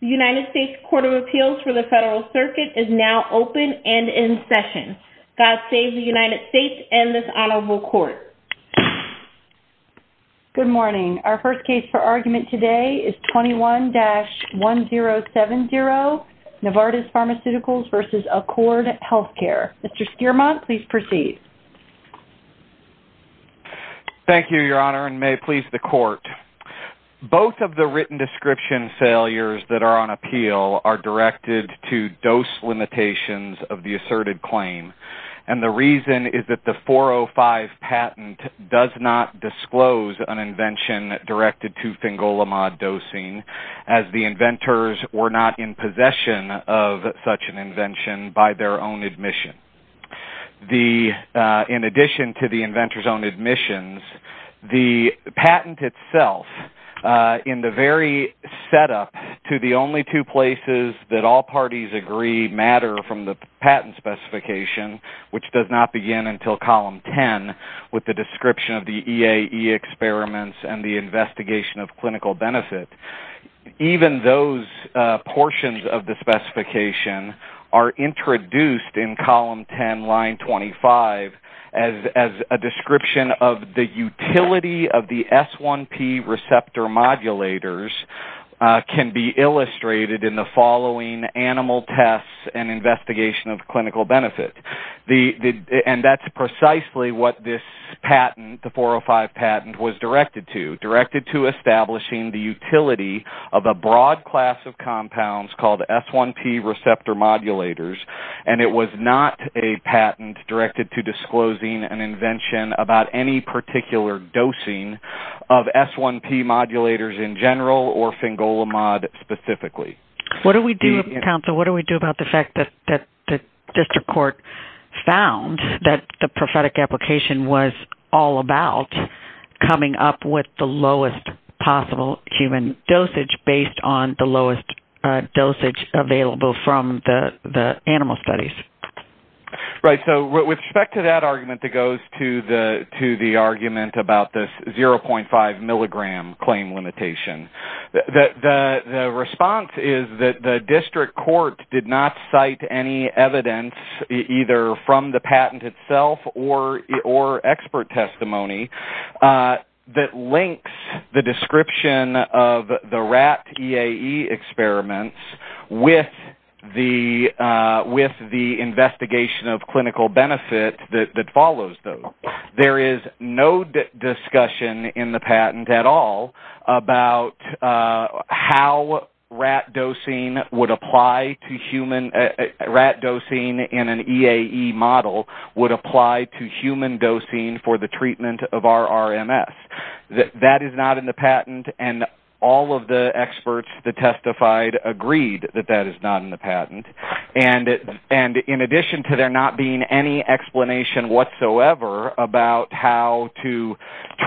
The United States Court of Appeals for the Federal Circuit is now open and in session. God save the United States and this honorable court. Good morning. Our first case for argument today is 21-1070, Novartis Pharmaceuticals v. Accord Healthcare. Mr. Stearman, please proceed. Thank you, Your Honor, and may it please the court. Both of the written description failures that are on appeal are directed to dose limitations of the asserted claim. And the reason is that the 405 patent does not disclose an invention directed to fingolimod dosing as the inventors were not in possession of such an invention by their own admission. In addition to the inventor's own admissions, the patent itself in the very setup to the only two places that all parties agree matter from the patent specification, which does not begin until column 10 with the description of the EAE experiments and the investigation of clinical benefit. Even those portions of the specification are introduced in column 10, line 25 as a description of the utility of the S1P receptor modulators can be illustrated in the following animal tests and investigation of clinical benefit. And that's precisely what this patent, the 405 patent, was directed to, directed to establishing the utility of a broad class of compounds called S1P receptor modulators. And it was not a patent directed to disclosing an invention about any particular dosing of S1P modulators in general or fingolimod specifically. What do we do, counsel, what do we do about the fact that the district court found that the prophetic application was all about coming up with the lowest possible human dosage based on the lowest dosage available from the animal studies? Right, so with respect to that argument that goes to the argument about this 0.5 milligram claim limitation, the response is that the district court did not cite any evidence either from the patent itself or expert testimony that links the description of the rat EAE experiments with the investigation of clinical benefit that follows those. There is no discussion in the patent at all about how rat dosing would apply to human, rat dosing in an EAE model would apply to human dosing for the treatment of RRMS. That is not in the patent and all of the experts that testified agreed that that is not in the patent. And in addition to there not being any explanation whatsoever about how to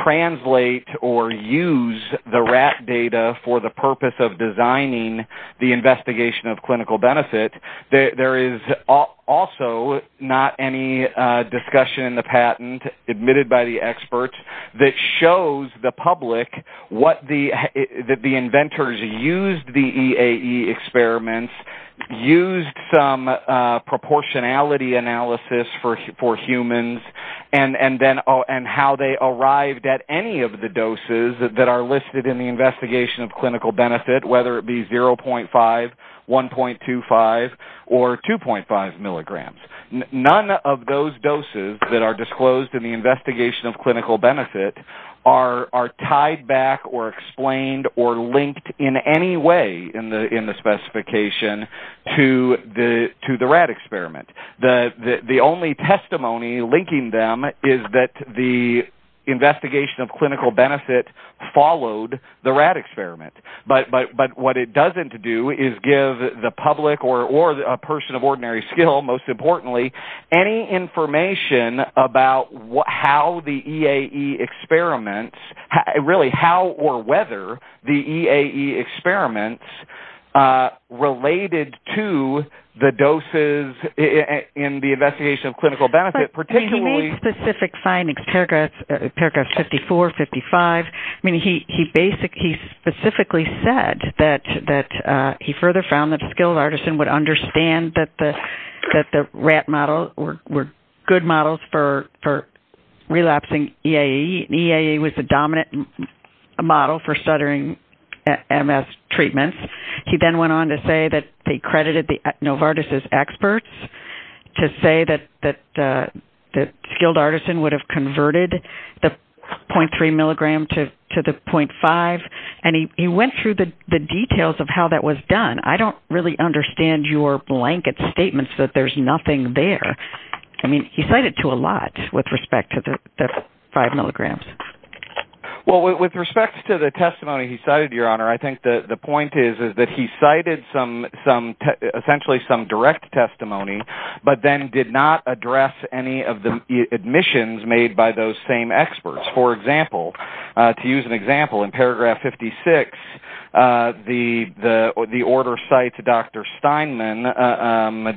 translate or use the rat data for the purpose of designing the investigation of clinical benefit, there is also not any discussion in the patent admitted by the experts that shows the public that the inventors used the EAE experiments, used some proportionality analysis for humans, and how they arrived at any of the doses that are listed in the investigation of clinical benefit, whether it be 0.5, 1.25, or 2.5 milligrams. None of those doses that are disclosed in the investigation of clinical benefit are tied back or explained or linked in any way in the specification to the rat experiment. The only testimony linking them is that the investigation of clinical benefit followed the rat experiment. But what it doesn't do is give the public or a person of ordinary skill, most importantly, any information about how the EAE experiments, really how or whether the EAE experiments related to the doses in the investigation of clinical benefit, particularly... He made specific findings, paragraphs 54, 55. He specifically said that he further found that a skilled artisan would understand that the rat model were good models for relapsing EAE. EAE was the dominant model for stuttering MS treatments. He then went on to say that they credited Novartis' experts to say that the skilled artisan would have converted the 0.3 milligram to the 0.5. And he went through the details of how that was done. I don't really understand your blanket statements that there's nothing there. I mean, he cited to a lot with respect to the 5 milligrams. Well, with respect to the testimony he cited, Your Honor, I think the point is that he cited essentially some direct testimony, but then did not address any of the admissions made by those same experts. For example, to use an example, in paragraph 56, the order cites Dr. Steinman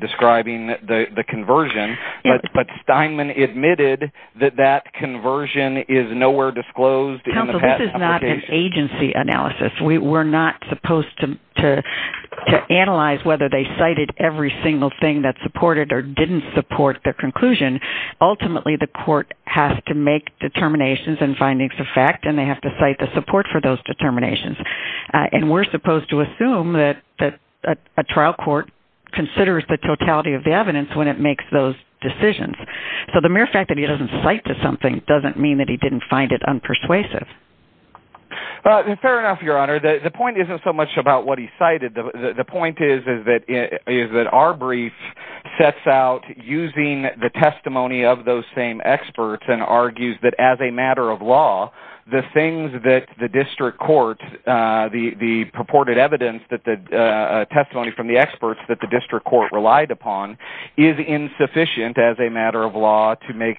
describing the conversion, but Steinman admitted that that conversion is nowhere disclosed. Counsel, this is not an agency analysis. We're not supposed to analyze whether they cited every single thing that supported or didn't support their conclusion. Ultimately, the court has to make determinations and findings of fact, and they have to cite the support for those determinations. And we're supposed to assume that a trial court considers the totality of the evidence when it makes those decisions. So the mere fact that he doesn't cite to something doesn't mean that he didn't find it unpersuasive. Fair enough, Your Honor. The point isn't so much about what he cited. The point is that our brief sets out using the testimony of those same experts and argues that as a matter of law, the things that the district court, the purported evidence, the testimony from the experts that the district court relied upon, is insufficient as a matter of law to make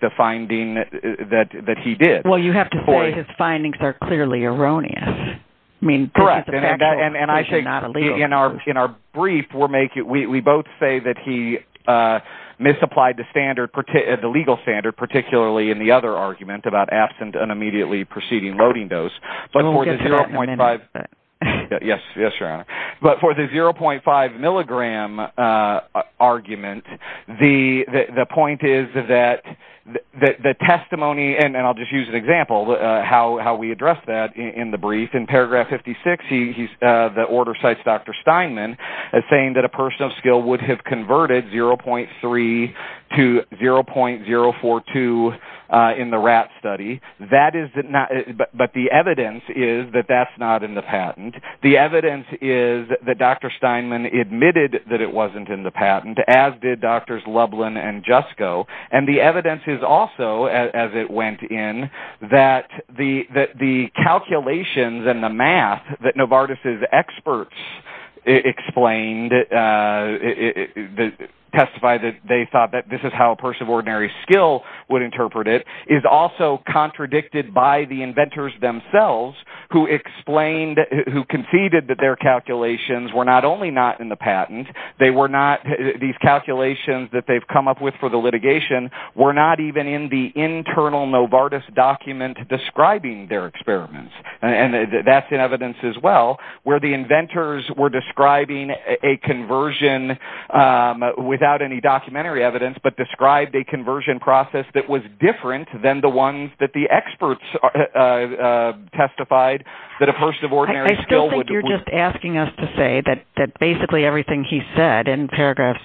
the finding that he did. Well, you have to say his findings are clearly erroneous. Correct. And I think in our brief, we both say that he misapplied the legal standard, particularly in the other argument about absent an immediately preceding loading dose. We'll get to that in a minute. Yes, Your Honor. But for the 0.5 milligram argument, the point is that the testimony, and I'll just use an example of how we address that in the brief. In paragraph 56, the order cites Dr. Steinman as saying that a person of skill would have converted 0.3 to 0.042 in the rat study. But the evidence is that that's not in the patent. The evidence is that Dr. Steinman admitted that it wasn't in the patent, as did Drs. Lublin and Jusko. And the evidence is also, as it went in, that the calculations and the math that Novartis' experts explained, testified that they thought that this is how a person of ordinary skill would interpret it, is also contradicted by the inventors themselves, who conceded that their calculations were not only not in the patent, these calculations that they've come up with for the litigation were not even in the internal Novartis document describing their experiments. And that's in evidence as well, where the inventors were describing a conversion without any documentary evidence, but described a conversion process that was different than the ones that the experts testified that a person of ordinary skill would do. So you're just asking us to say that basically everything he said in paragraphs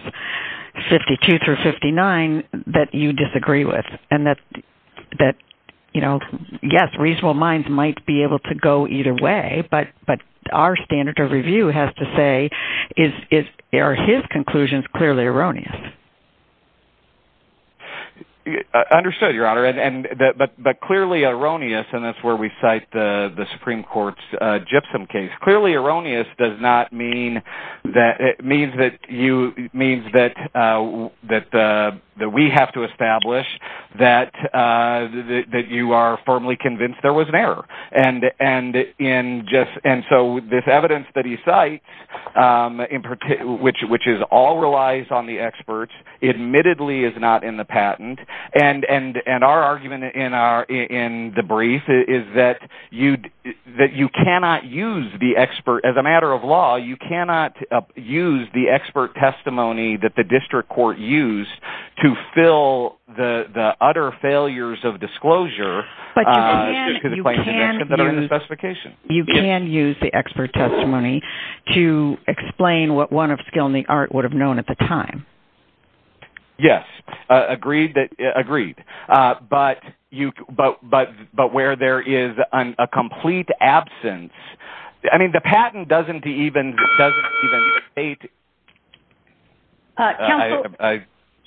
52 through 59 that you disagree with, and that, yes, reasonable minds might be able to go either way, but our standard of review has to say, are his conclusions clearly erroneous? Understood, Your Honor. But clearly erroneous, and that's where we cite the Supreme Court's Gypsum case. Clearly erroneous does not mean that we have to establish that you are firmly convinced there was an error. And so this evidence that he cites, which all relies on the experts, admittedly is not in the patent. And our argument in the brief is that you cannot use the expert. As a matter of law, you cannot use the expert testimony that the district court used to fill the utter failures of disclosure. But you can use the expert testimony to explain what one of skill in the art would have known at the time. Yes, agreed. But where there is a complete absence, I mean, the patent doesn't even state...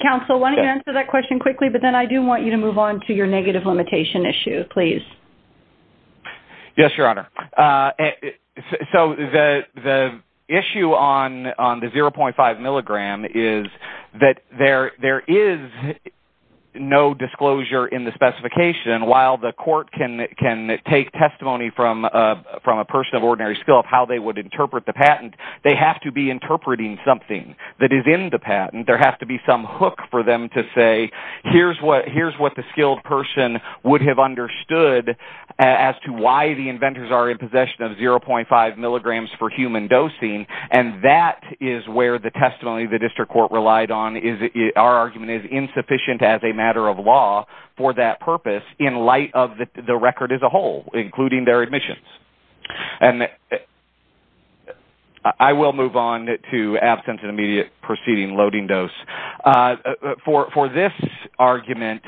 Counsel, why don't you answer that question quickly, but then I do want you to move on to your negative limitation issue, please. Yes, Your Honor. So the issue on the 0.5 milligram is that there is no disclosure in the specification. While the court can take testimony from a person of ordinary skill of how they would interpret the patent, they have to be interpreting something that is in the patent. There has to be some hook for them to say, here is what the skilled person would have understood as to why the inventors are in possession of 0.5 milligrams for human dosing. And that is where the testimony the district court relied on. Our argument is insufficient as a matter of law for that purpose in light of the record as a whole, including their admissions. I will move on to absence and immediate proceeding loading dose. For this argument,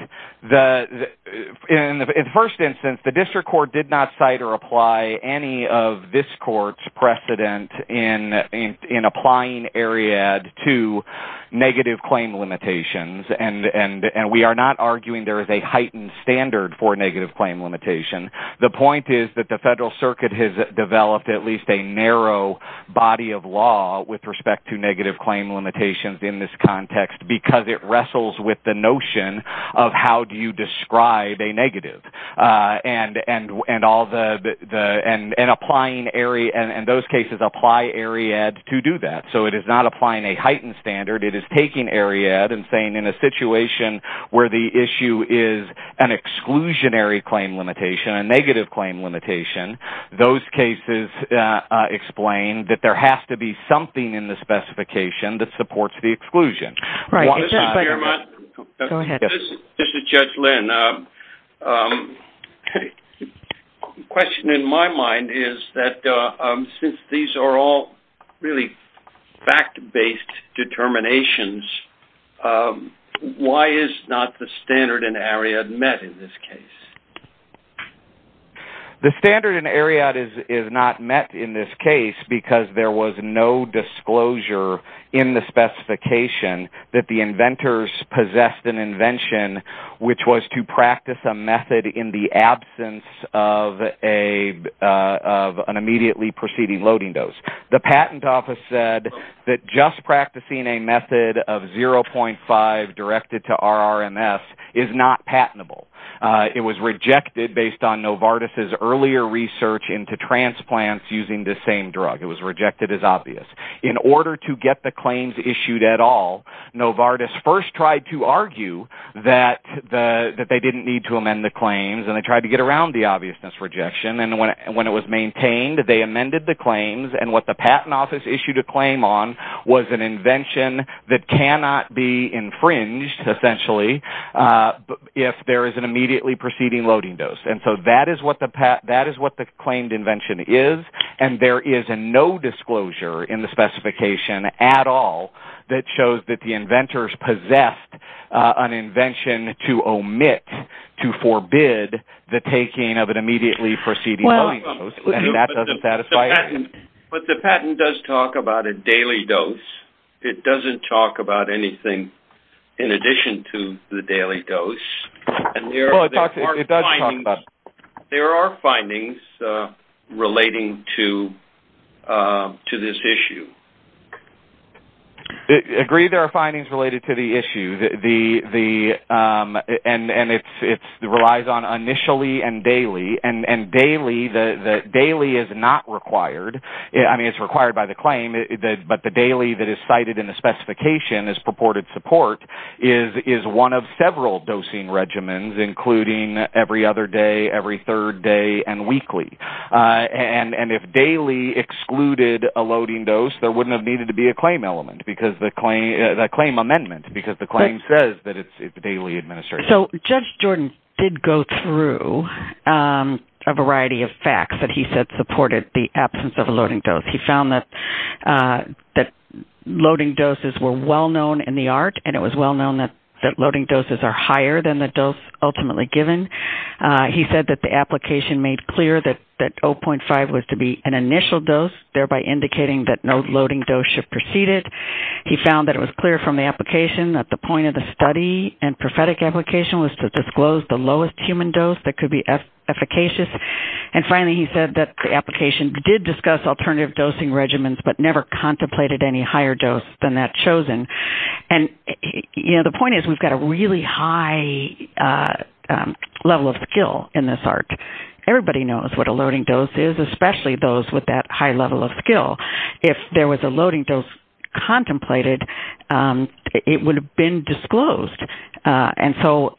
in the first instance, the district court did not cite or apply any of this court's precedent in applying Ariadne to negative claim limitations. And we are not arguing there is a heightened standard for negative claim limitation. The point is that the federal circuit has developed at least a narrow body of law with respect to negative claim limitations in this context because it wrestles with the notion of how do you describe a negative. And those cases apply Ariadne to do that. So it is not applying a heightened standard. It is taking Ariadne and saying in a situation where the issue is an exclusionary claim limitation, a negative claim limitation, those cases explain that there has to be something in the specification that supports the exclusion. This is Judge Lynn. The question in my mind is that since these are all really fact-based determinations, why is not the standard in Ariadne met in this case? The standard in Ariadne is not met in this case because there was no disclosure in the specification that the inventors possessed an invention which was to practice a method in the absence of an immediately proceeding loading dose. The patent office said that just practicing a method of 0.5 directed to RRMS is not patentable. It was rejected based on Novartis' earlier research into transplants using the same drug. It was rejected as obvious. In order to get the claims issued at all, Novartis first tried to argue that they didn't need to amend the claims and they tried to get around the obviousness rejection. And when it was maintained, they amended the claims. And what the patent office issued a claim on was an invention that cannot be infringed essentially if there is an immediately proceeding loading dose. And so that is what the claimed invention is. And there is no disclosure in the specification at all that shows that the inventors possessed an invention to omit, to forbid the taking of an immediately proceeding loading dose. And that doesn't satisfy it. But the patent does talk about a daily dose. It doesn't talk about anything in addition to the daily dose. Well, it does talk about it. There are findings relating to this issue. Agreed there are findings related to the issue. And it relies on initially and daily. And daily is not required. I mean, it's required by the claim. But the daily that is cited in the specification as purported support is one of several dosing regimens, including every other day, every third day, and weekly. And if daily excluded a loading dose, there wouldn't have needed to be a claim element, the claim amendment, because the claim says that it's daily administration. So Judge Jordan did go through a variety of facts that he said supported the absence of a loading dose. He found that loading doses were well-known in the art, and it was well-known that loading doses are higher than the dose ultimately given. He said that the application made clear that 0.5 was to be an initial dose, thereby indicating that no loading dose should proceed it. He found that it was clear from the application that the point of the study and prophetic application was to disclose the lowest human dose that could be efficacious. And finally, he said that the application did discuss alternative dosing regimens but never contemplated any higher dose than that chosen. And, you know, the point is we've got a really high level of skill in this art. Everybody knows what a loading dose is, especially those with that high level of skill. If there was a loading dose contemplated, it would have been disclosed. And so,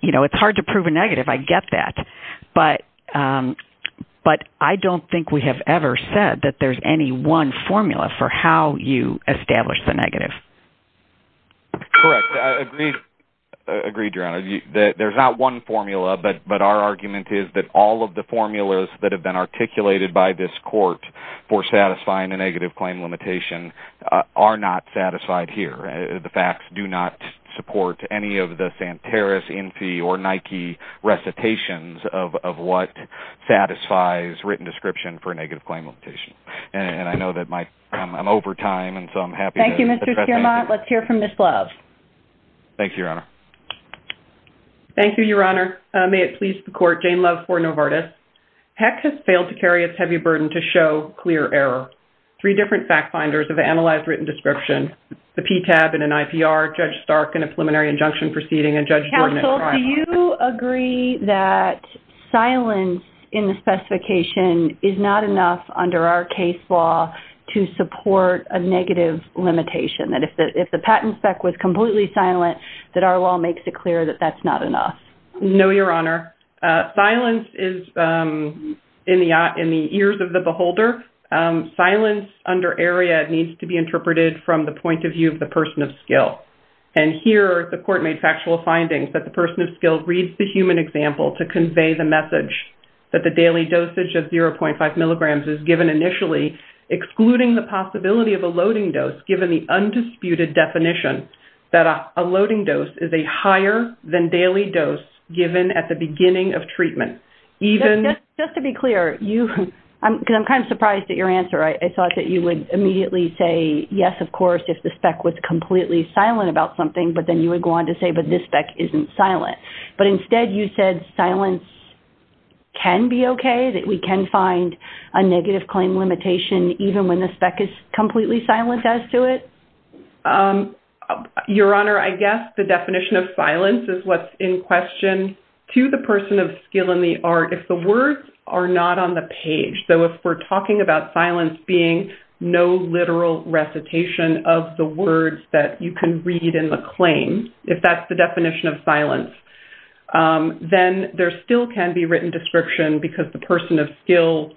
you know, it's hard to prove a negative. I get that. But I don't think we have ever said that there's any one formula for how you establish the negative. Agreed, Jaron. There's not one formula, but our argument is that all of the formulas that have been articulated by this court for satisfying a negative claim limitation are not satisfied here. The facts do not support any of the Santeris, Infy, or Nike recitations of what satisfies written description for a negative claim limitation. And I know that I'm over time, and so I'm happy to address that. Thank you, Mr. Stiermont. Let's hear from Ms. Love. Thank you, Your Honor. Thank you, Your Honor. May it please the court, Jane Love for Novartis. HEC has failed to carry its heavy burden to show clear error. Three different fact finders have analyzed written description. The PTAB in an IPR, Judge Stark in a preliminary injunction proceeding, and Judge Jordan in crime law. Counsel, do you agree that silence in the specification is not enough under our case law to support a negative limitation? That if the patent spec was completely silent, that our law makes it clear that that's not enough. No, Your Honor. Silence is in the ears of the beholder. Silence under area needs to be interpreted from the point of view of the person of skill. And here the court made factual findings that the person of skill reads the human example to convey the message that the daily dosage of 0.5 milligrams is given initially, excluding the possibility of a loading dose given the undisputed definition that a loading dose is a higher than daily dose given at the beginning of treatment. Just to be clear, because I'm kind of surprised at your answer, I thought that you would immediately say, yes, of course, if the spec was completely silent about something, but then you would go on to say, but this spec isn't silent. But instead you said silence can be okay, that we can find a negative claim limitation even when the spec is completely silent as to it? Your Honor, I guess the definition of silence is what's in question to the person of skill in the art. If the words are not on the page, so if we're talking about silence being no literal recitation of the words that you can read in the claim, if that's the definition of silence, then there still can be written description because the person of skill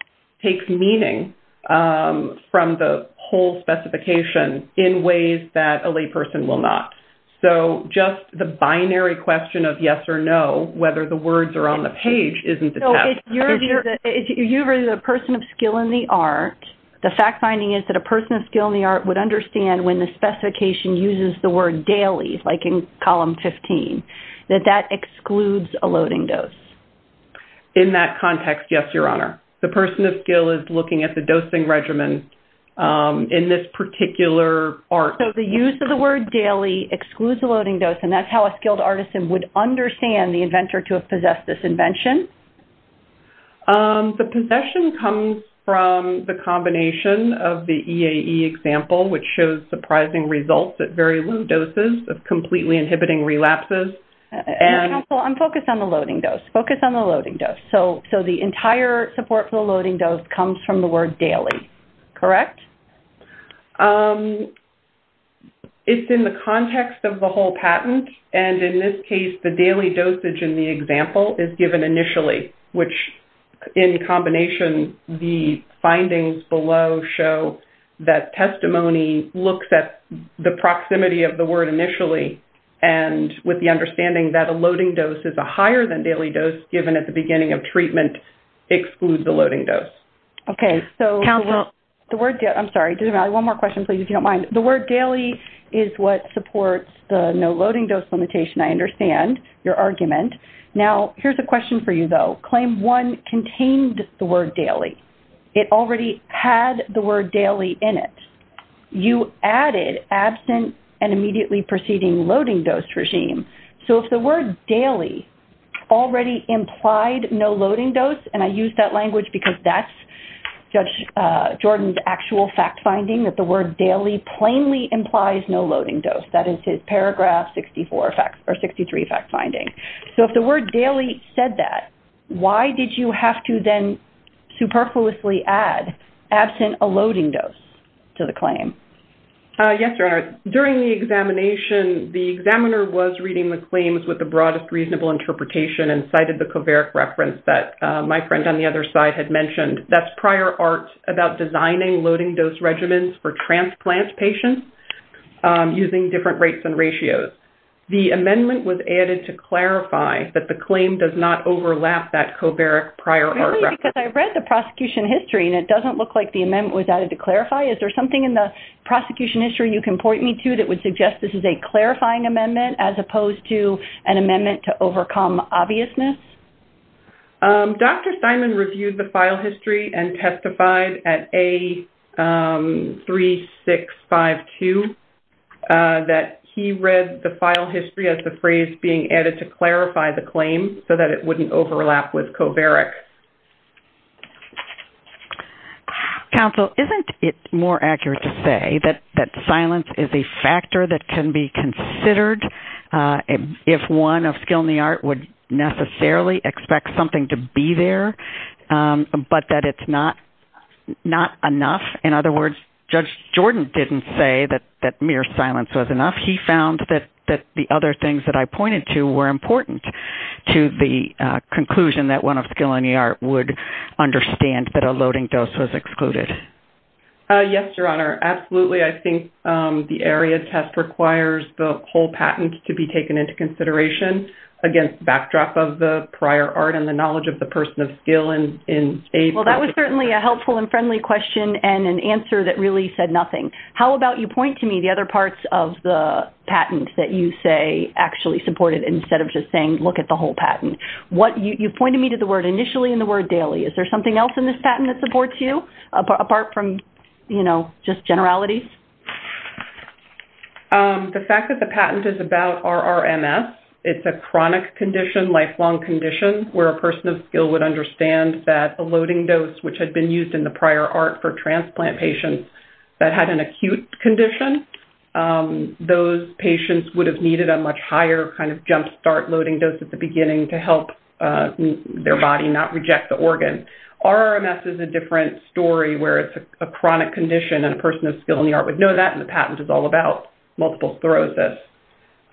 takes meaning from the whole specification in ways that a lay person will not. So just the binary question of yes or no, whether the words are on the page, isn't the test. So if you're the person of skill in the art, the fact finding is that a person of skill in the art would understand when the specification uses the word daily, like in column 15, that that excludes a loading dose. In that context, yes, Your Honor. The person of skill is looking at the dosing regimen in this particular art. So the use of the word daily excludes the loading dose, and that's how a skilled artisan would understand the inventor to have possessed this invention? The possession comes from the combination of the EAE example, which shows surprising results at very low doses of completely inhibiting relapses. Counsel, I'm focused on the loading dose. Focus on the loading dose. So the entire support for the loading dose comes from the word daily, correct? It's in the context of the whole patent, and in this case, the daily dosage in the example is given initially, which in combination, the findings below show that testimony looks at the proximity of the word initially and with the understanding that a loading dose is a higher-than-daily dose given at the beginning of treatment excludes the loading dose. Okay, so the word daily is what supports the no-loading-dose limitation. I understand your argument. Now, here's a question for you, though. Claim 1 contained the word daily. It already had the word daily in it. You added absent and immediately preceding loading-dose regime. So if the word daily already implied no loading dose, and I use that language because that's Judge Jordan's actual fact-finding, that the word daily plainly implies no loading dose. That is his Paragraph 64 or 63 fact-finding. So if the word daily said that, why did you have to then superfluously add absent a loading dose to the claim? Yes, Your Honor. During the examination, the examiner was reading the claims with the broadest reasonable interpretation and cited the covariate reference that my friend on the other side had mentioned. That's prior art about designing loading-dose regimens for transplant patients using different rates and ratios. The amendment was added to clarify that the claim does not overlap that covariate prior art reference. Really? Because I read the prosecution history, and it doesn't look like the amendment was added to clarify. Is there something in the prosecution history you can point me to that would suggest this is a clarifying amendment as opposed to an amendment to overcome obviousness? Dr. Simon reviewed the file history and testified at A3652 that he read the file history as the phrase being added to clarify the claim so that it wouldn't overlap with covariate. Counsel, isn't it more accurate to say that silence is a factor that can be considered if one of skill in the art would necessarily expect something to be there, but that it's not enough? In other words, Judge Jordan didn't say that mere silence was enough. He found that the other things that I pointed to were important to the conclusion that one of skill in the art would understand that a loading dose was excluded. Yes, Your Honor. Absolutely. I think the area test requires the whole patent to be taken into consideration against the backdrop of the prior art and the knowledge of the person of skill in A3652. Well, that was certainly a helpful and friendly question and an answer that really said nothing. How about you point to me the other parts of the patent that you say actually supported instead of just saying look at the whole patent? You pointed me to the word initially and the word daily. Is there something else in this patent that supports you apart from just generalities? The fact that the patent is about RRMS, it's a chronic condition, lifelong condition, where a person of skill would understand that a loading dose, which had been used in the prior art for transplant patients that had an acute condition, those patients would have needed a much higher kind of jump start loading dose at the beginning to help their body not reject the organ. RRMS is a different story where it's a chronic condition, and a person of skill in the art would know that, and the patent is all about multiple sclerosis.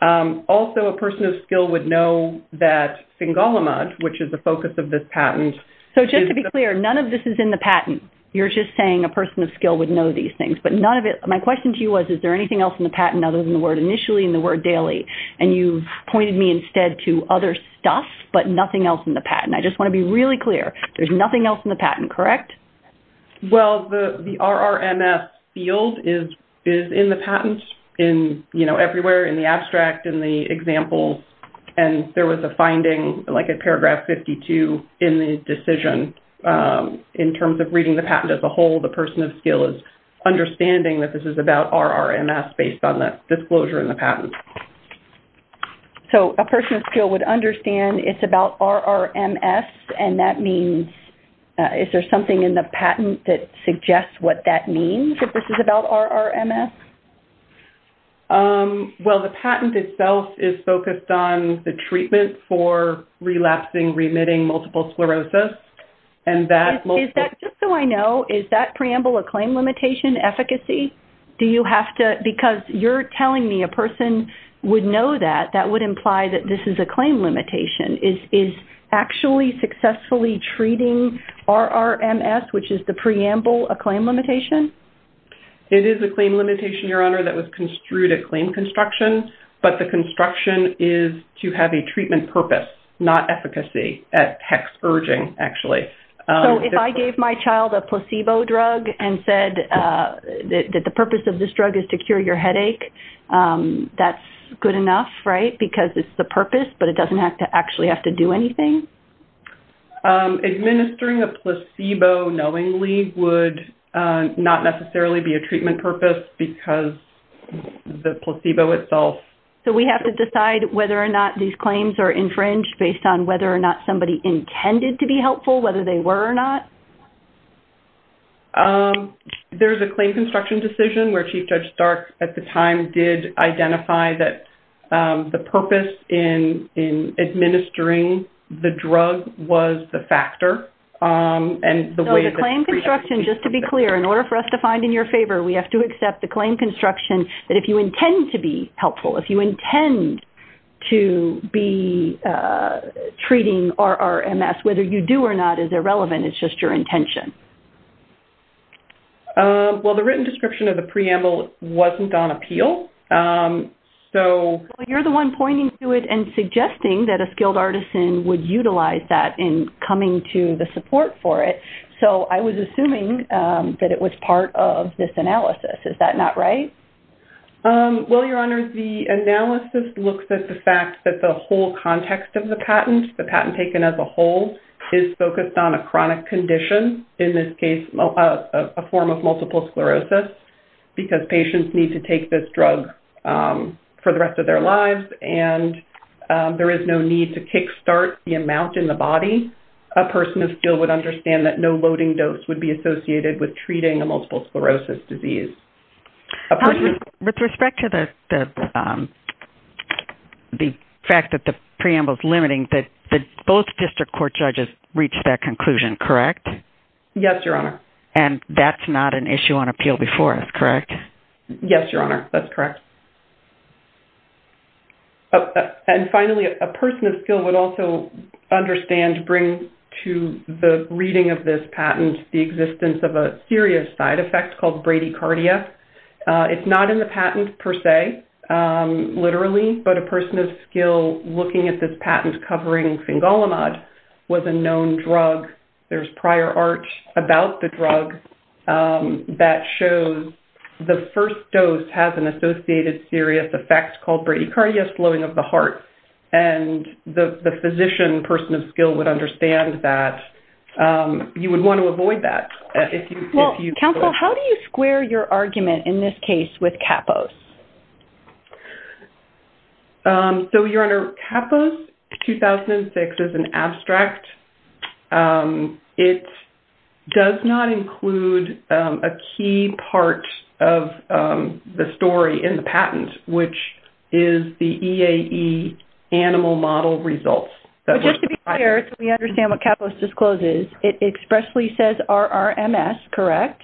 Also, a person of skill would know that singalamud, which is the focus of this patent. So just to be clear, none of this is in the patent. You're just saying a person of skill would know these things, but none of it. My question to you was, is there anything else in the patent other than the word initially and the word daily? And you've pointed me instead to other stuff, but nothing else in the patent. I just want to be really clear. There's nothing else in the patent, correct? Well, the RRMS field is in the patent everywhere, in the abstract, in the examples, and there was a finding, like at paragraph 52, in the decision. In terms of reading the patent as a whole, the person of skill is understanding that this is about RRMS based on the disclosure in the patent. So a person of skill would understand it's about RRMS, and that means is there something in the patent that suggests what that means, if this is about RRMS? Well, the patent itself is focused on the treatment for relapsing, remitting, multiple sclerosis. Just so I know, is that preamble a claim limitation efficacy? Do you have to, because you're telling me a person would know that, that would imply that this is a claim limitation. Is actually successfully treating RRMS, which is the preamble, a claim limitation? It is a claim limitation, Your Honor, that was construed at claim construction, but the construction is to have a treatment purpose, not efficacy, at hex urging, actually. Okay. So if I gave my child a placebo drug and said that the purpose of this drug is to cure your headache, that's good enough, right, because it's the purpose, but it doesn't actually have to do anything? Administering a placebo knowingly would not necessarily be a treatment purpose because the placebo itself. So we have to decide whether or not these claims are infringed based on whether or not somebody intended to be helpful, whether they were or not? There's a claim construction decision where Chief Judge Stark, at the time, did identify that the purpose in administering the drug was the factor. So the claim construction, just to be clear, in order for us to find in your favor, we have to accept the claim construction that if you intend to be helpful, if you intend to be treating RRMS, whether you do or not is irrelevant. It's just your intention. Well, the written description of the preamble wasn't on appeal. You're the one pointing to it and suggesting that a skilled artisan would utilize that in coming to the support for it. So I was assuming that it was part of this analysis. Is that not right? Well, Your Honor, the analysis looks at the fact that the whole context of the patent, the patent taken as a whole, is focused on a chronic condition, in this case a form of multiple sclerosis, because patients need to take this drug for the rest of their lives and there is no need to kickstart the amount in the body. A person of skill would understand that no loading dose would be associated with treating a multiple sclerosis disease. With respect to the fact that the preamble is limiting, both district court judges reached that conclusion, correct? Yes, Your Honor. And that's not an issue on appeal before us, correct? Yes, Your Honor, that's correct. And finally, a person of skill would also understand, bring to the reading of this patent the existence of a serious side effect called bradycardia. It's not in the patent per se, literally, but a person of skill looking at this patent covering fingolimod was a known drug. There's prior art about the drug that shows the first dose has an associated serious effect called bradycardia, slowing of the heart. And the physician, person of skill, would understand that. You would want to avoid that. Counsel, how do you square your argument in this case with Kappos? So, Your Honor, Kappos 2006 is an abstract. It does not include a key part of the story in the patent, which is the EAE animal model results. Just to be clear so we understand what Kappos discloses, it expressly says RRMS, correct?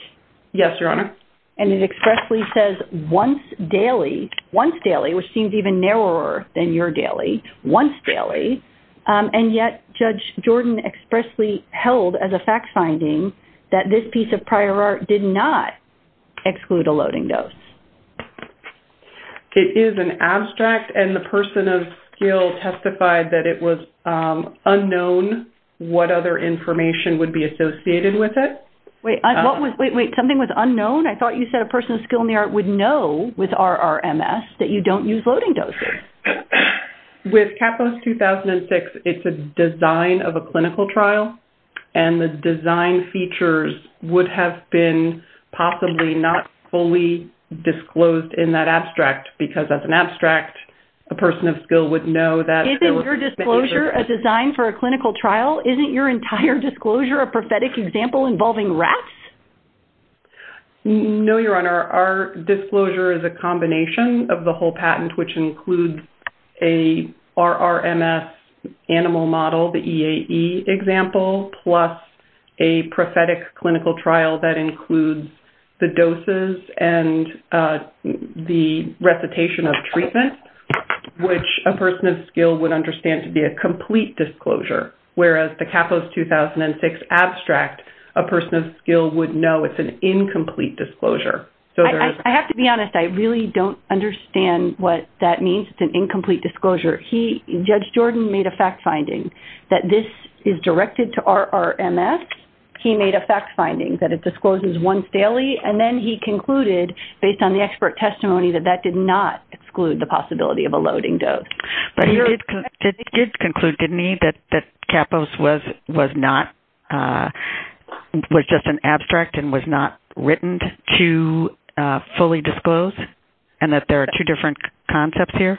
Yes, Your Honor. And it expressly says once daily, once daily, which seems even narrower than your daily, once daily. And yet Judge Jordan expressly held as a fact finding that this piece of prior art did not exclude a loading dose. It is an abstract, and the person of skill testified that it was unknown what other information would be associated with it. Wait, something was unknown? I thought you said a person of skill in the art would know with RRMS that you don't use loading doses. With Kappos 2006, it's a design of a clinical trial, and the design features would have been possibly not fully disclosed in that abstract because as an abstract, a person of skill would know that there were Is your disclosure a design for a clinical trial? Isn't your entire disclosure a prophetic example involving rats? No, Your Honor. Our disclosure is a combination of the whole patent, which includes a RRMS animal model, the EAE example, plus a prophetic clinical trial that includes the doses and the recitation of treatment, which a person of skill would understand to be a complete disclosure, whereas the Kappos 2006 abstract, a person of skill would know it's an incomplete disclosure. I have to be honest. I really don't understand what that means, it's an incomplete disclosure. Judge Jordan made a fact finding that this is directed to RRMS. He made a fact finding that it discloses once daily, and then he concluded, based on the expert testimony, that that did not exclude the possibility of a loading dose. But he did conclude, didn't he, that Kappos was just an abstract and was not written to fully disclose and that there are two different concepts here?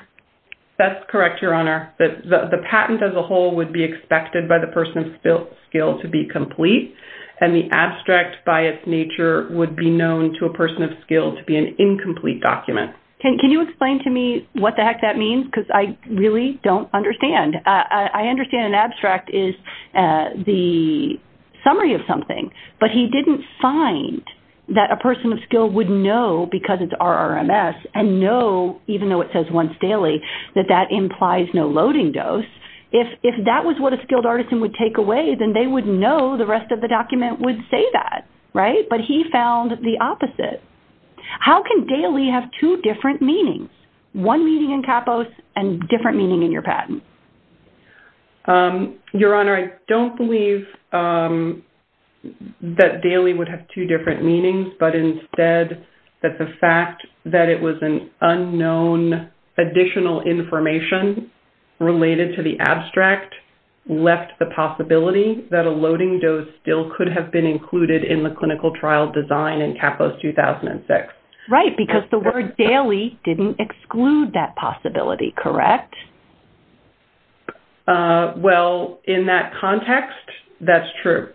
That's correct, Your Honor. The patent as a whole would be expected by the person of skill to be complete, and the abstract by its nature would be known to a person of skill to be an incomplete document. Can you explain to me what the heck that means? Because I really don't understand. I understand an abstract is the summary of something, but he didn't find that a person of skill would know, because it's RRMS, and know, even though it says once daily, that that implies no loading dose. If that was what a skilled artisan would take away, then they would know the rest of the document would say that, right? But he found the opposite. How can daily have two different meanings, one meaning in Kappos and different meaning in your patent? Your Honor, I don't believe that daily would have two different meanings, but instead that the fact that it was an unknown additional information related to the abstract left the possibility that a loading dose still could have been included in the clinical trial design in Kappos 2006. Right, because the word daily didn't exclude that possibility, correct? Well, in that context, that's true.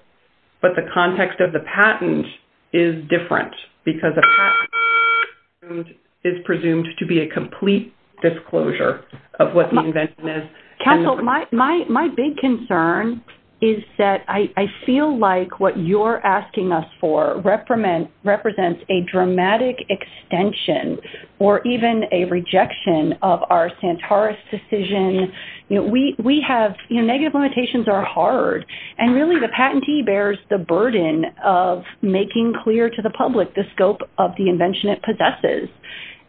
But the context of the patent is different, because a patent is presumed to be a complete disclosure of what the invention is. Counsel, my big concern is that I feel like what you're asking us for represents a dramatic extension or even a rejection of our Santoros decision. Negative limitations are hard, and really the patentee bears the burden of making clear to the public the scope of the invention it possesses.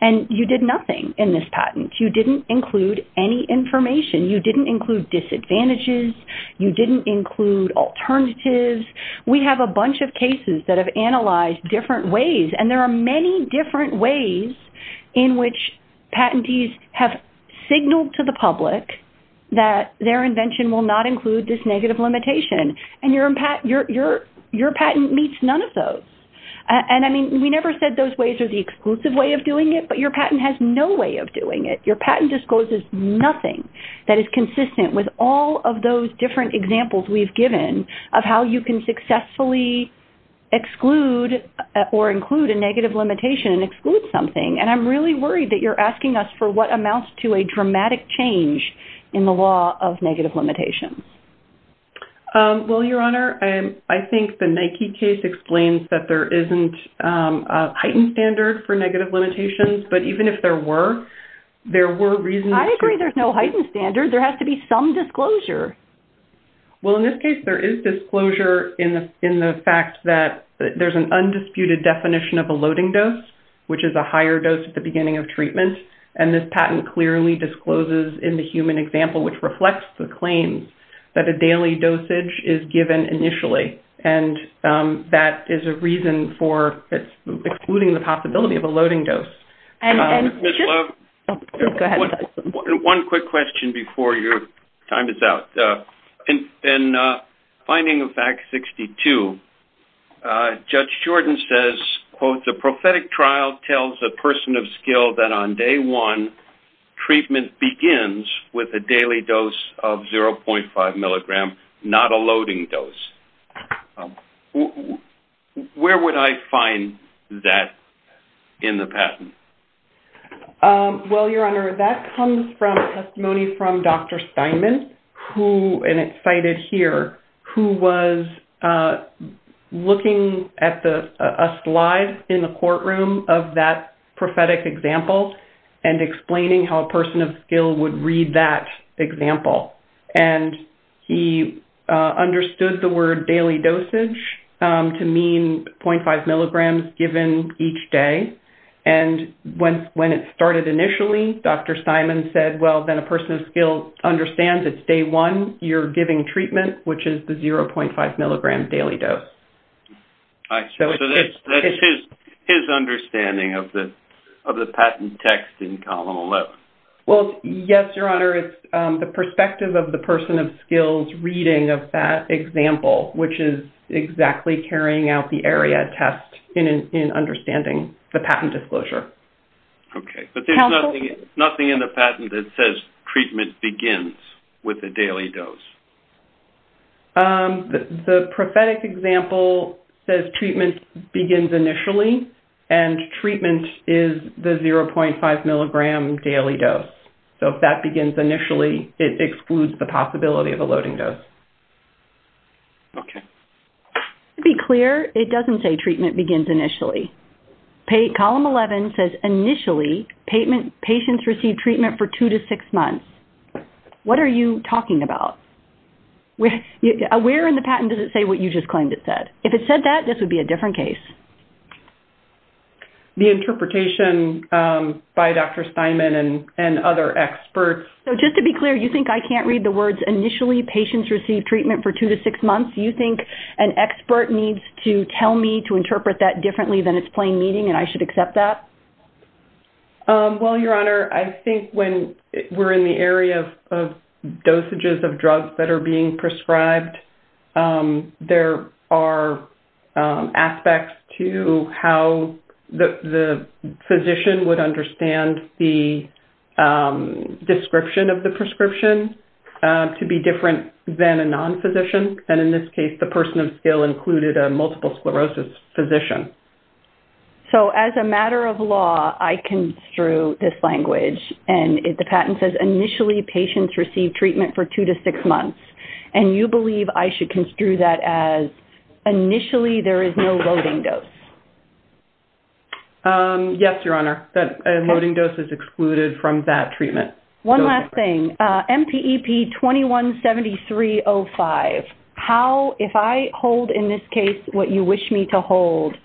And you did nothing in this patent. You didn't include any information. You didn't include disadvantages. You didn't include alternatives. We have a bunch of cases that have analyzed different ways, and there are many different ways in which patentees have signaled to the public that their invention will not include this negative limitation, and your patent meets none of those. And, I mean, we never said those ways are the exclusive way of doing it, but your patent has no way of doing it. Your patent discloses nothing that is consistent with all of those different examples we've given of how you can successfully exclude or include a negative limitation and exclude something. And I'm really worried that you're asking us for what amounts to a dramatic change in the law of negative limitations. Well, Your Honor, I think the Nike case explains that there isn't a heightened standard for negative limitations, but even if there were, there were reasons to I agree there's no heightened standard. There has to be some disclosure. Well, in this case, there is disclosure in the fact that there's an undisputed definition of a loading dose, which is a higher dose at the beginning of treatment, and this patent clearly discloses in the human example, which reflects the claims that a daily dosage is given initially, and that is a reason for excluding the possibility of a loading dose. Ms. Love, one quick question before your time is out. In finding of Act 62, Judge Shorten says, quote, the prophetic trial tells a person of skill that on day one, treatment begins with a daily dose of 0.5 milligram, not a loading dose. Where would I find that in the patent? Well, Your Honor, that comes from a testimony from Dr. Steinman, who, and it's cited here, who was looking at a slide in the courtroom of that prophetic example and explaining how a person of skill would read that example. And he understood the word daily dosage to mean 0.5 milligrams given each day. And when it started initially, Dr. Steinman said, well, then a person of skill understands it's day one, you're giving treatment, which is the 0.5 milligram daily dose. So that's his understanding of the patent text in Column 11. Well, yes, Your Honor. It's the perspective of the person of skill's reading of that example, which is exactly carrying out the area test in understanding the patent disclosure. Okay. But there's nothing in the patent that says treatment begins with a daily dose. The prophetic example says treatment begins initially, and treatment is the 0.5 milligram daily dose. So if that begins initially, it excludes the possibility of a loading dose. Okay. To be clear, it doesn't say treatment begins initially. Column 11 says initially patients receive treatment for two to six months. What are you talking about? Where in the patent does it say what you just claimed it said? If it said that, this would be a different case. The interpretation by Dr. Steinman and other experts. So just to be clear, you think I can't read the words initially patients receive treatment for two to six months? You think an expert needs to tell me to interpret that differently than it's plain meaning and I should accept that? Well, Your Honor, I think when we're in the area of dosages of drugs that are being prescribed, there are aspects to how the physician would understand the description of the prescription to be different than a non-physician. And in this case, the person of skill included a multiple sclerosis physician. So as a matter of law, I construe this language. And the patent says initially patients receive treatment for two to six months. And you believe I should construe that as initially there is no loading dose? Yes, Your Honor. A loading dose is excluded from that treatment. One last thing. MPEP 217305. How, if I hold in this case what you wish me to hold,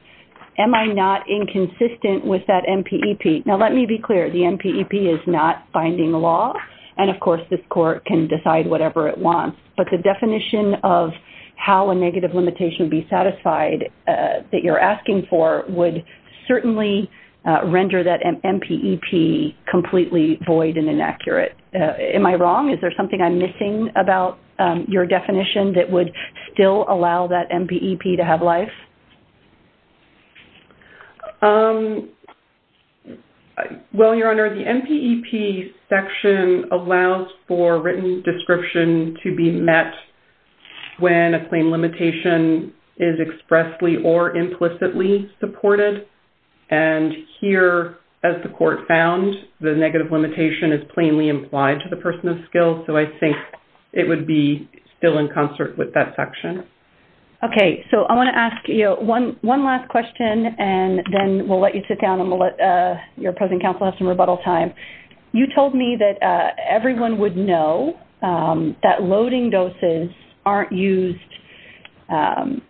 am I not inconsistent with that MPEP? Now, let me be clear. The MPEP is not binding law. And, of course, this court can decide whatever it wants. But the definition of how a negative limitation would be satisfied that you're asking for would certainly render that MPEP completely void and inaccurate. Am I wrong? Is there something I'm missing about your definition that would still allow that MPEP to have life? Well, Your Honor, the MPEP section allows for written description to be met when a claim limitation is expressly or implicitly supported. And here, as the court found, the negative limitation is plainly implied to the person of skill. So I think it would be still in concert with that section. Okay. So I want to ask you one last question, and then we'll let you sit down, and we'll let your present counsel have some rebuttal time. You told me that everyone would know that loading doses aren't used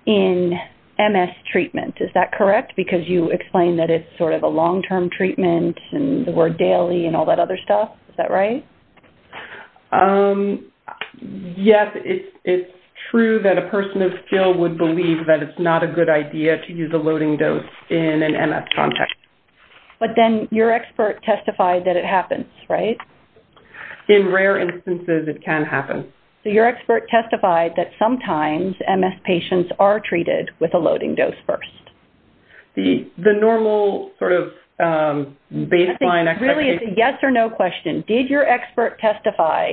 in MS treatment. Is that correct? Because you explained that it's sort of a long-term treatment and the word daily and all that other stuff. Is that right? Yes. It's true that a person of skill would believe that it's not a good idea to use a loading dose in an MS context. But then your expert testified that it happens, right? In rare instances, it can happen. So your expert testified that sometimes MS patients are treated with a loading dose first. The normal sort of baseline expectation? I think really it's a yes or no question. Did your expert testify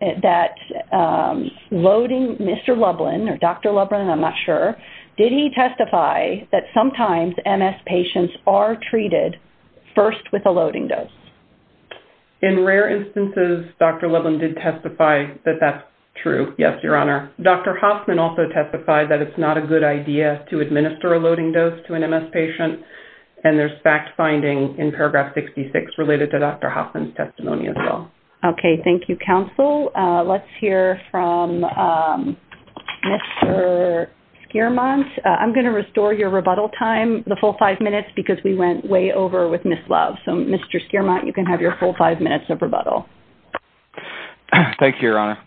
that loading Mr. Lublin or Dr. Lublin, I'm not sure, did he testify that sometimes MS patients are treated first with a loading dose? In rare instances, Dr. Lublin did testify that that's true. Yes, Your Honor. Dr. Hoffman also testified that it's not a good idea to administer a loading dose to an MS patient. And there's fact-finding in paragraph 66 related to Dr. Hoffman's testimony as well. Okay. Thank you, counsel. Let's hear from Mr. Schiermont. I'm going to restore your rebuttal time, the full five minutes, because we went way over with Ms. Love. So, Mr. Schiermont, you can have your full five minutes of rebuttal. Thank you, Your Honor.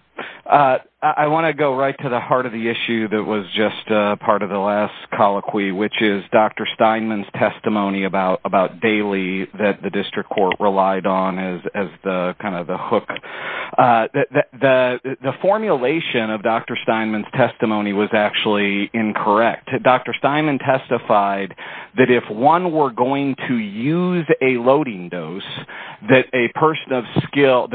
I want to go right to the heart of the issue that was just part of the last colloquy, which is Dr. Steinman's testimony about daily that the district court relied on as kind of the hook. The formulation of Dr. Steinman's testimony was actually incorrect. Dr. Steinman testified that if one were going to use a loading dose, that a person of skill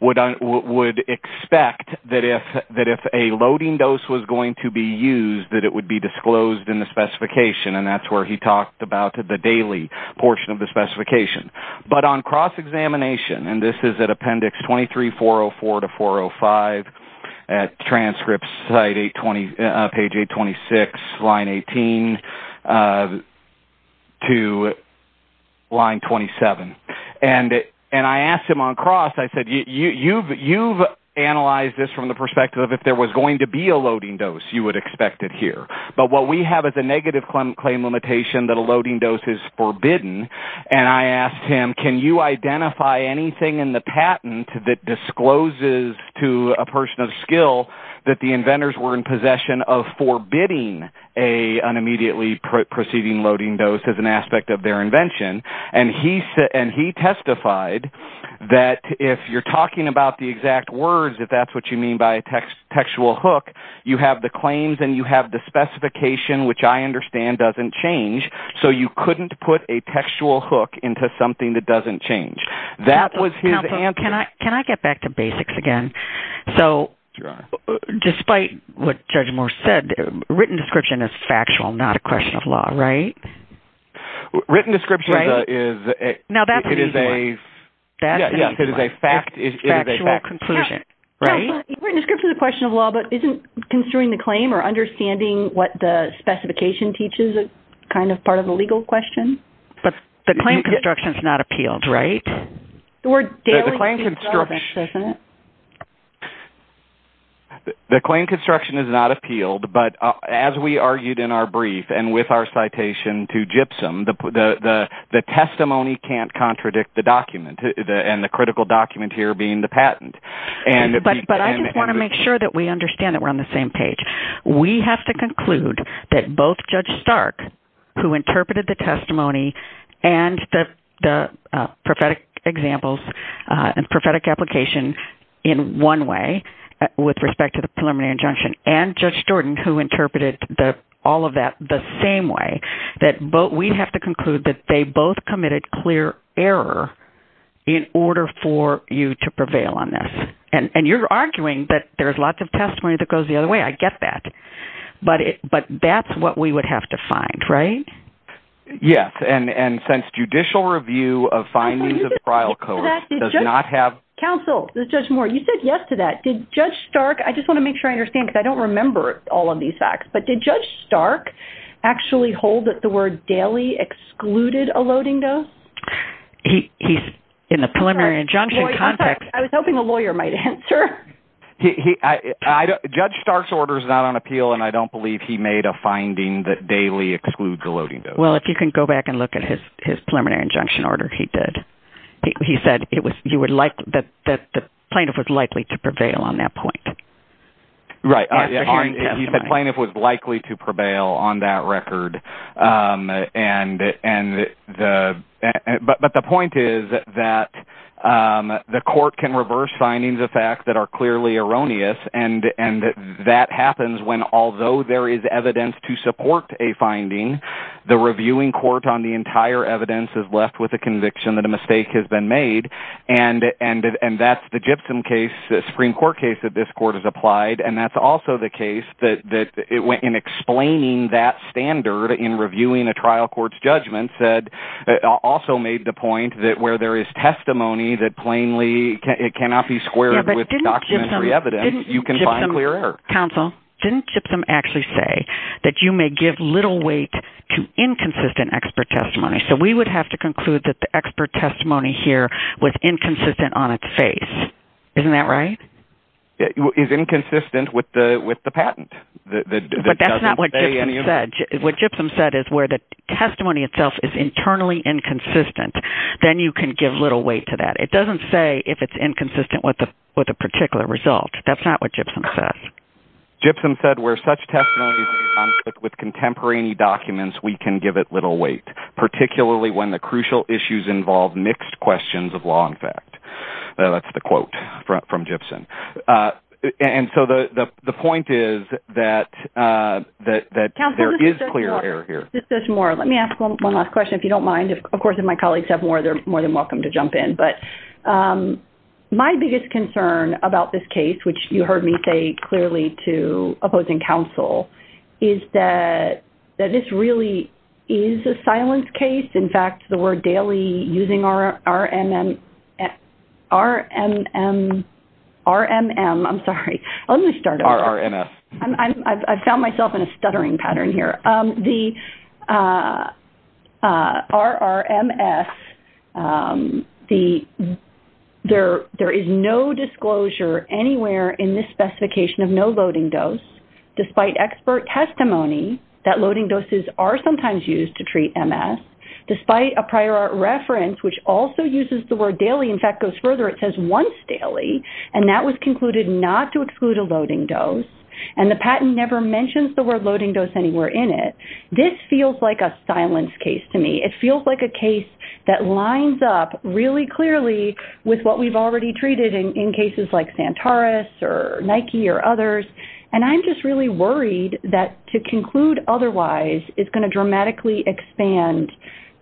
would expect that if a loading dose was going to be used, that it would be disclosed in the specification. And that's where he talked about the daily portion of the specification. But on cross-examination, and this is at appendix 23404 to 405 at transcript page 826, line 18 to line 27. And I asked him on cross, I said, you've analyzed this from the perspective of if there was going to be a loading dose, you would expect it here. But what we have is a negative claim limitation that a loading dose is forbidden, and I asked him, can you identify anything in the patent that the inventors were in possession of forbidding an immediately proceeding loading dose as an aspect of their invention? And he testified that if you're talking about the exact words, if that's what you mean by a textual hook, you have the claims and you have the specification, which I understand doesn't change, so you couldn't put a textual hook into something that doesn't change. That was his answer. Counsel, can I get back to basics again? So despite what Judge Moore said, written description is factual, not a question of law, right? Written description is a factual conclusion, right? Written description is a question of law, but isn't construing the claim or understanding what the specification teaches kind of part of a legal question? But the claim construction is not appealed, right? The claim construction is not appealed, but as we argued in our brief and with our citation to GIPSOM, the testimony can't contradict the document and the critical document here being the patent. But I just want to make sure that we understand that we're on the same page. We have to conclude that both Judge Stark, who interpreted the testimony, and the prophetic examples and prophetic application in one way with respect to the preliminary injunction, and Judge Jordan, who interpreted all of that the same way, that we have to conclude that they both committed clear error in order for you to prevail on this. And you're arguing that there's lots of testimony that goes the other way. I get that. But that's what we would have to find, right? Yes, and since judicial review of findings of the trial court does not have... Counsel, Judge Moore, you said yes to that. Did Judge Stark, I just want to make sure I understand because I don't remember all of these facts, but did Judge Stark actually hold that the word daily excluded a loading though? He's in the preliminary injunction context. I was hoping the lawyer might answer. Judge Stark's order is not on appeal, and I don't believe he made a finding that daily excludes a loading though. Well, if you can go back and look at his preliminary injunction order, he did. He said that the plaintiff was likely to prevail on that point. Right. He said plaintiff was likely to prevail on that record. But the point is that the court can reverse findings of facts that are clearly erroneous, and that happens when although there is evidence to support a finding, the reviewing court on the entire evidence is left with a conviction that a mistake has been made, and that's the Gibson case, the Supreme Court case that this court has applied, and that's also the case that in explaining that standard in reviewing a trial court's judgment also made the point that where there is testimony that plainly cannot be squared with documentary evidence, you can find clear error. Counsel, didn't Gibson actually say that you may give little weight to inconsistent expert testimony? So we would have to conclude that the expert testimony here was inconsistent on its face. Isn't that right? It is inconsistent with the patent. But that's not what Gibson said. What Gibson said is where the testimony itself is internally inconsistent, then you can give little weight to that. It doesn't say if it's inconsistent with a particular result. That's not what Gibson said. Gibson said where such testimony is in conflict with contemporary documents, we can give it little weight, particularly when the crucial issues involve mixed questions of law and fact. That's the quote from Gibson. And so the point is that there is clear error here. Counsel, let me ask one last question if you don't mind. Of course, if my colleagues have more, they're more than welcome to jump in. But my biggest concern about this case, which you heard me say clearly to opposing counsel, is that this really is a silence case. In fact, the word daily using RMM, RMM, RMM, I'm sorry. Let me start over. RRMS. I found myself in a stuttering pattern here. The RRMS, there is no disclosure anywhere in this specification of no loading dose despite expert testimony that loading doses are sometimes used to treat MS, despite a prior art reference, which also uses the word daily. In fact, it goes further. It says once daily. And that was concluded not to exclude a loading dose. And the patent never mentions the word loading dose anywhere in it. This feels like a silence case to me. It feels like a case that lines up really clearly with what we've already treated in cases like Santaris or Nike or others. And I'm just really worried that to conclude otherwise is going to dramatically expand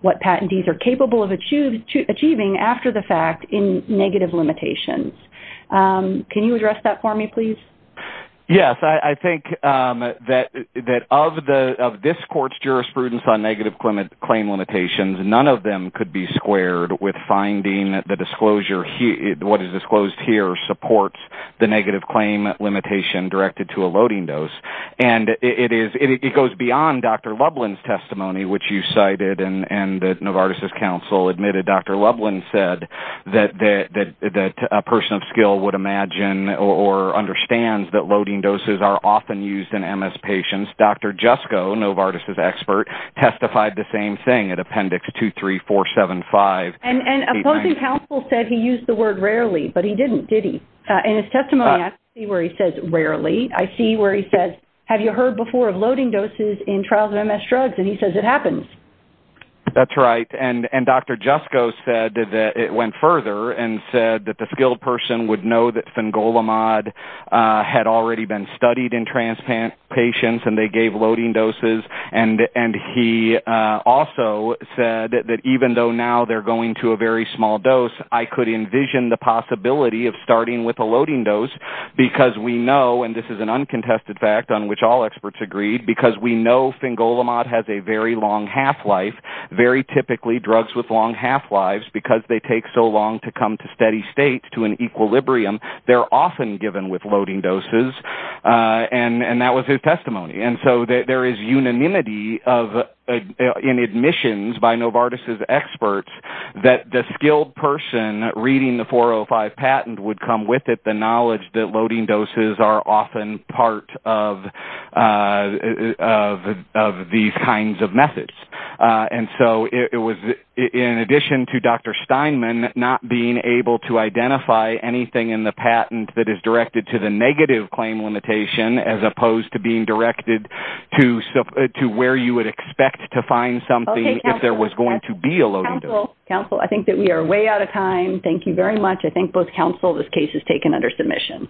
what patentees are capable of achieving after the fact in negative limitations. Can you address that for me, please? Yes. I think that of this court's jurisprudence on negative claim limitations, none of them could be squared with finding the disclosure, what is disclosed here supports the negative claim limitation directed to a loading dose. And it goes beyond Dr. Lublin's testimony, which you cited, and Novartis' counsel admitted Dr. Lublin said that a person of skill would not imagine or understand that loading doses are often used in MS patients. Dr. Jusko, Novartis' expert, testified the same thing at Appendix 23475. And opposing counsel said he used the word rarely, but he didn't, did he? In his testimony, I see where he says rarely. I see where he says have you heard before of loading doses in trials of MS drugs? And he says it happens. That's right. And Dr. Jusko said that it went further and said that the skilled person would know that Fingolimod had already been studied in transplant patients and they gave loading doses. And he also said that even though now they're going to a very small dose, I could envision the possibility of starting with a loading dose because we know, and this is an uncontested fact on which all experts agreed, because we know Fingolimod has a very long half-life. Very typically, drugs with long half-lives, because they take so long to come to steady state, to an equilibrium, they're often given with loading doses. And that was his testimony. And so there is unanimity in admissions by Novartis' experts that the skilled person reading the 405 patent would come with it, given the knowledge that loading doses are often part of these kinds of methods. And so it was, in addition to Dr. Steinman, not being able to identify anything in the patent that is directed to the negative claim limitation as opposed to being directed to where you would expect to find something if there was going to be a loading dose. Counsel, I think that we are way out of time. Thank you very much. I think both counsel, this case is taken under submission.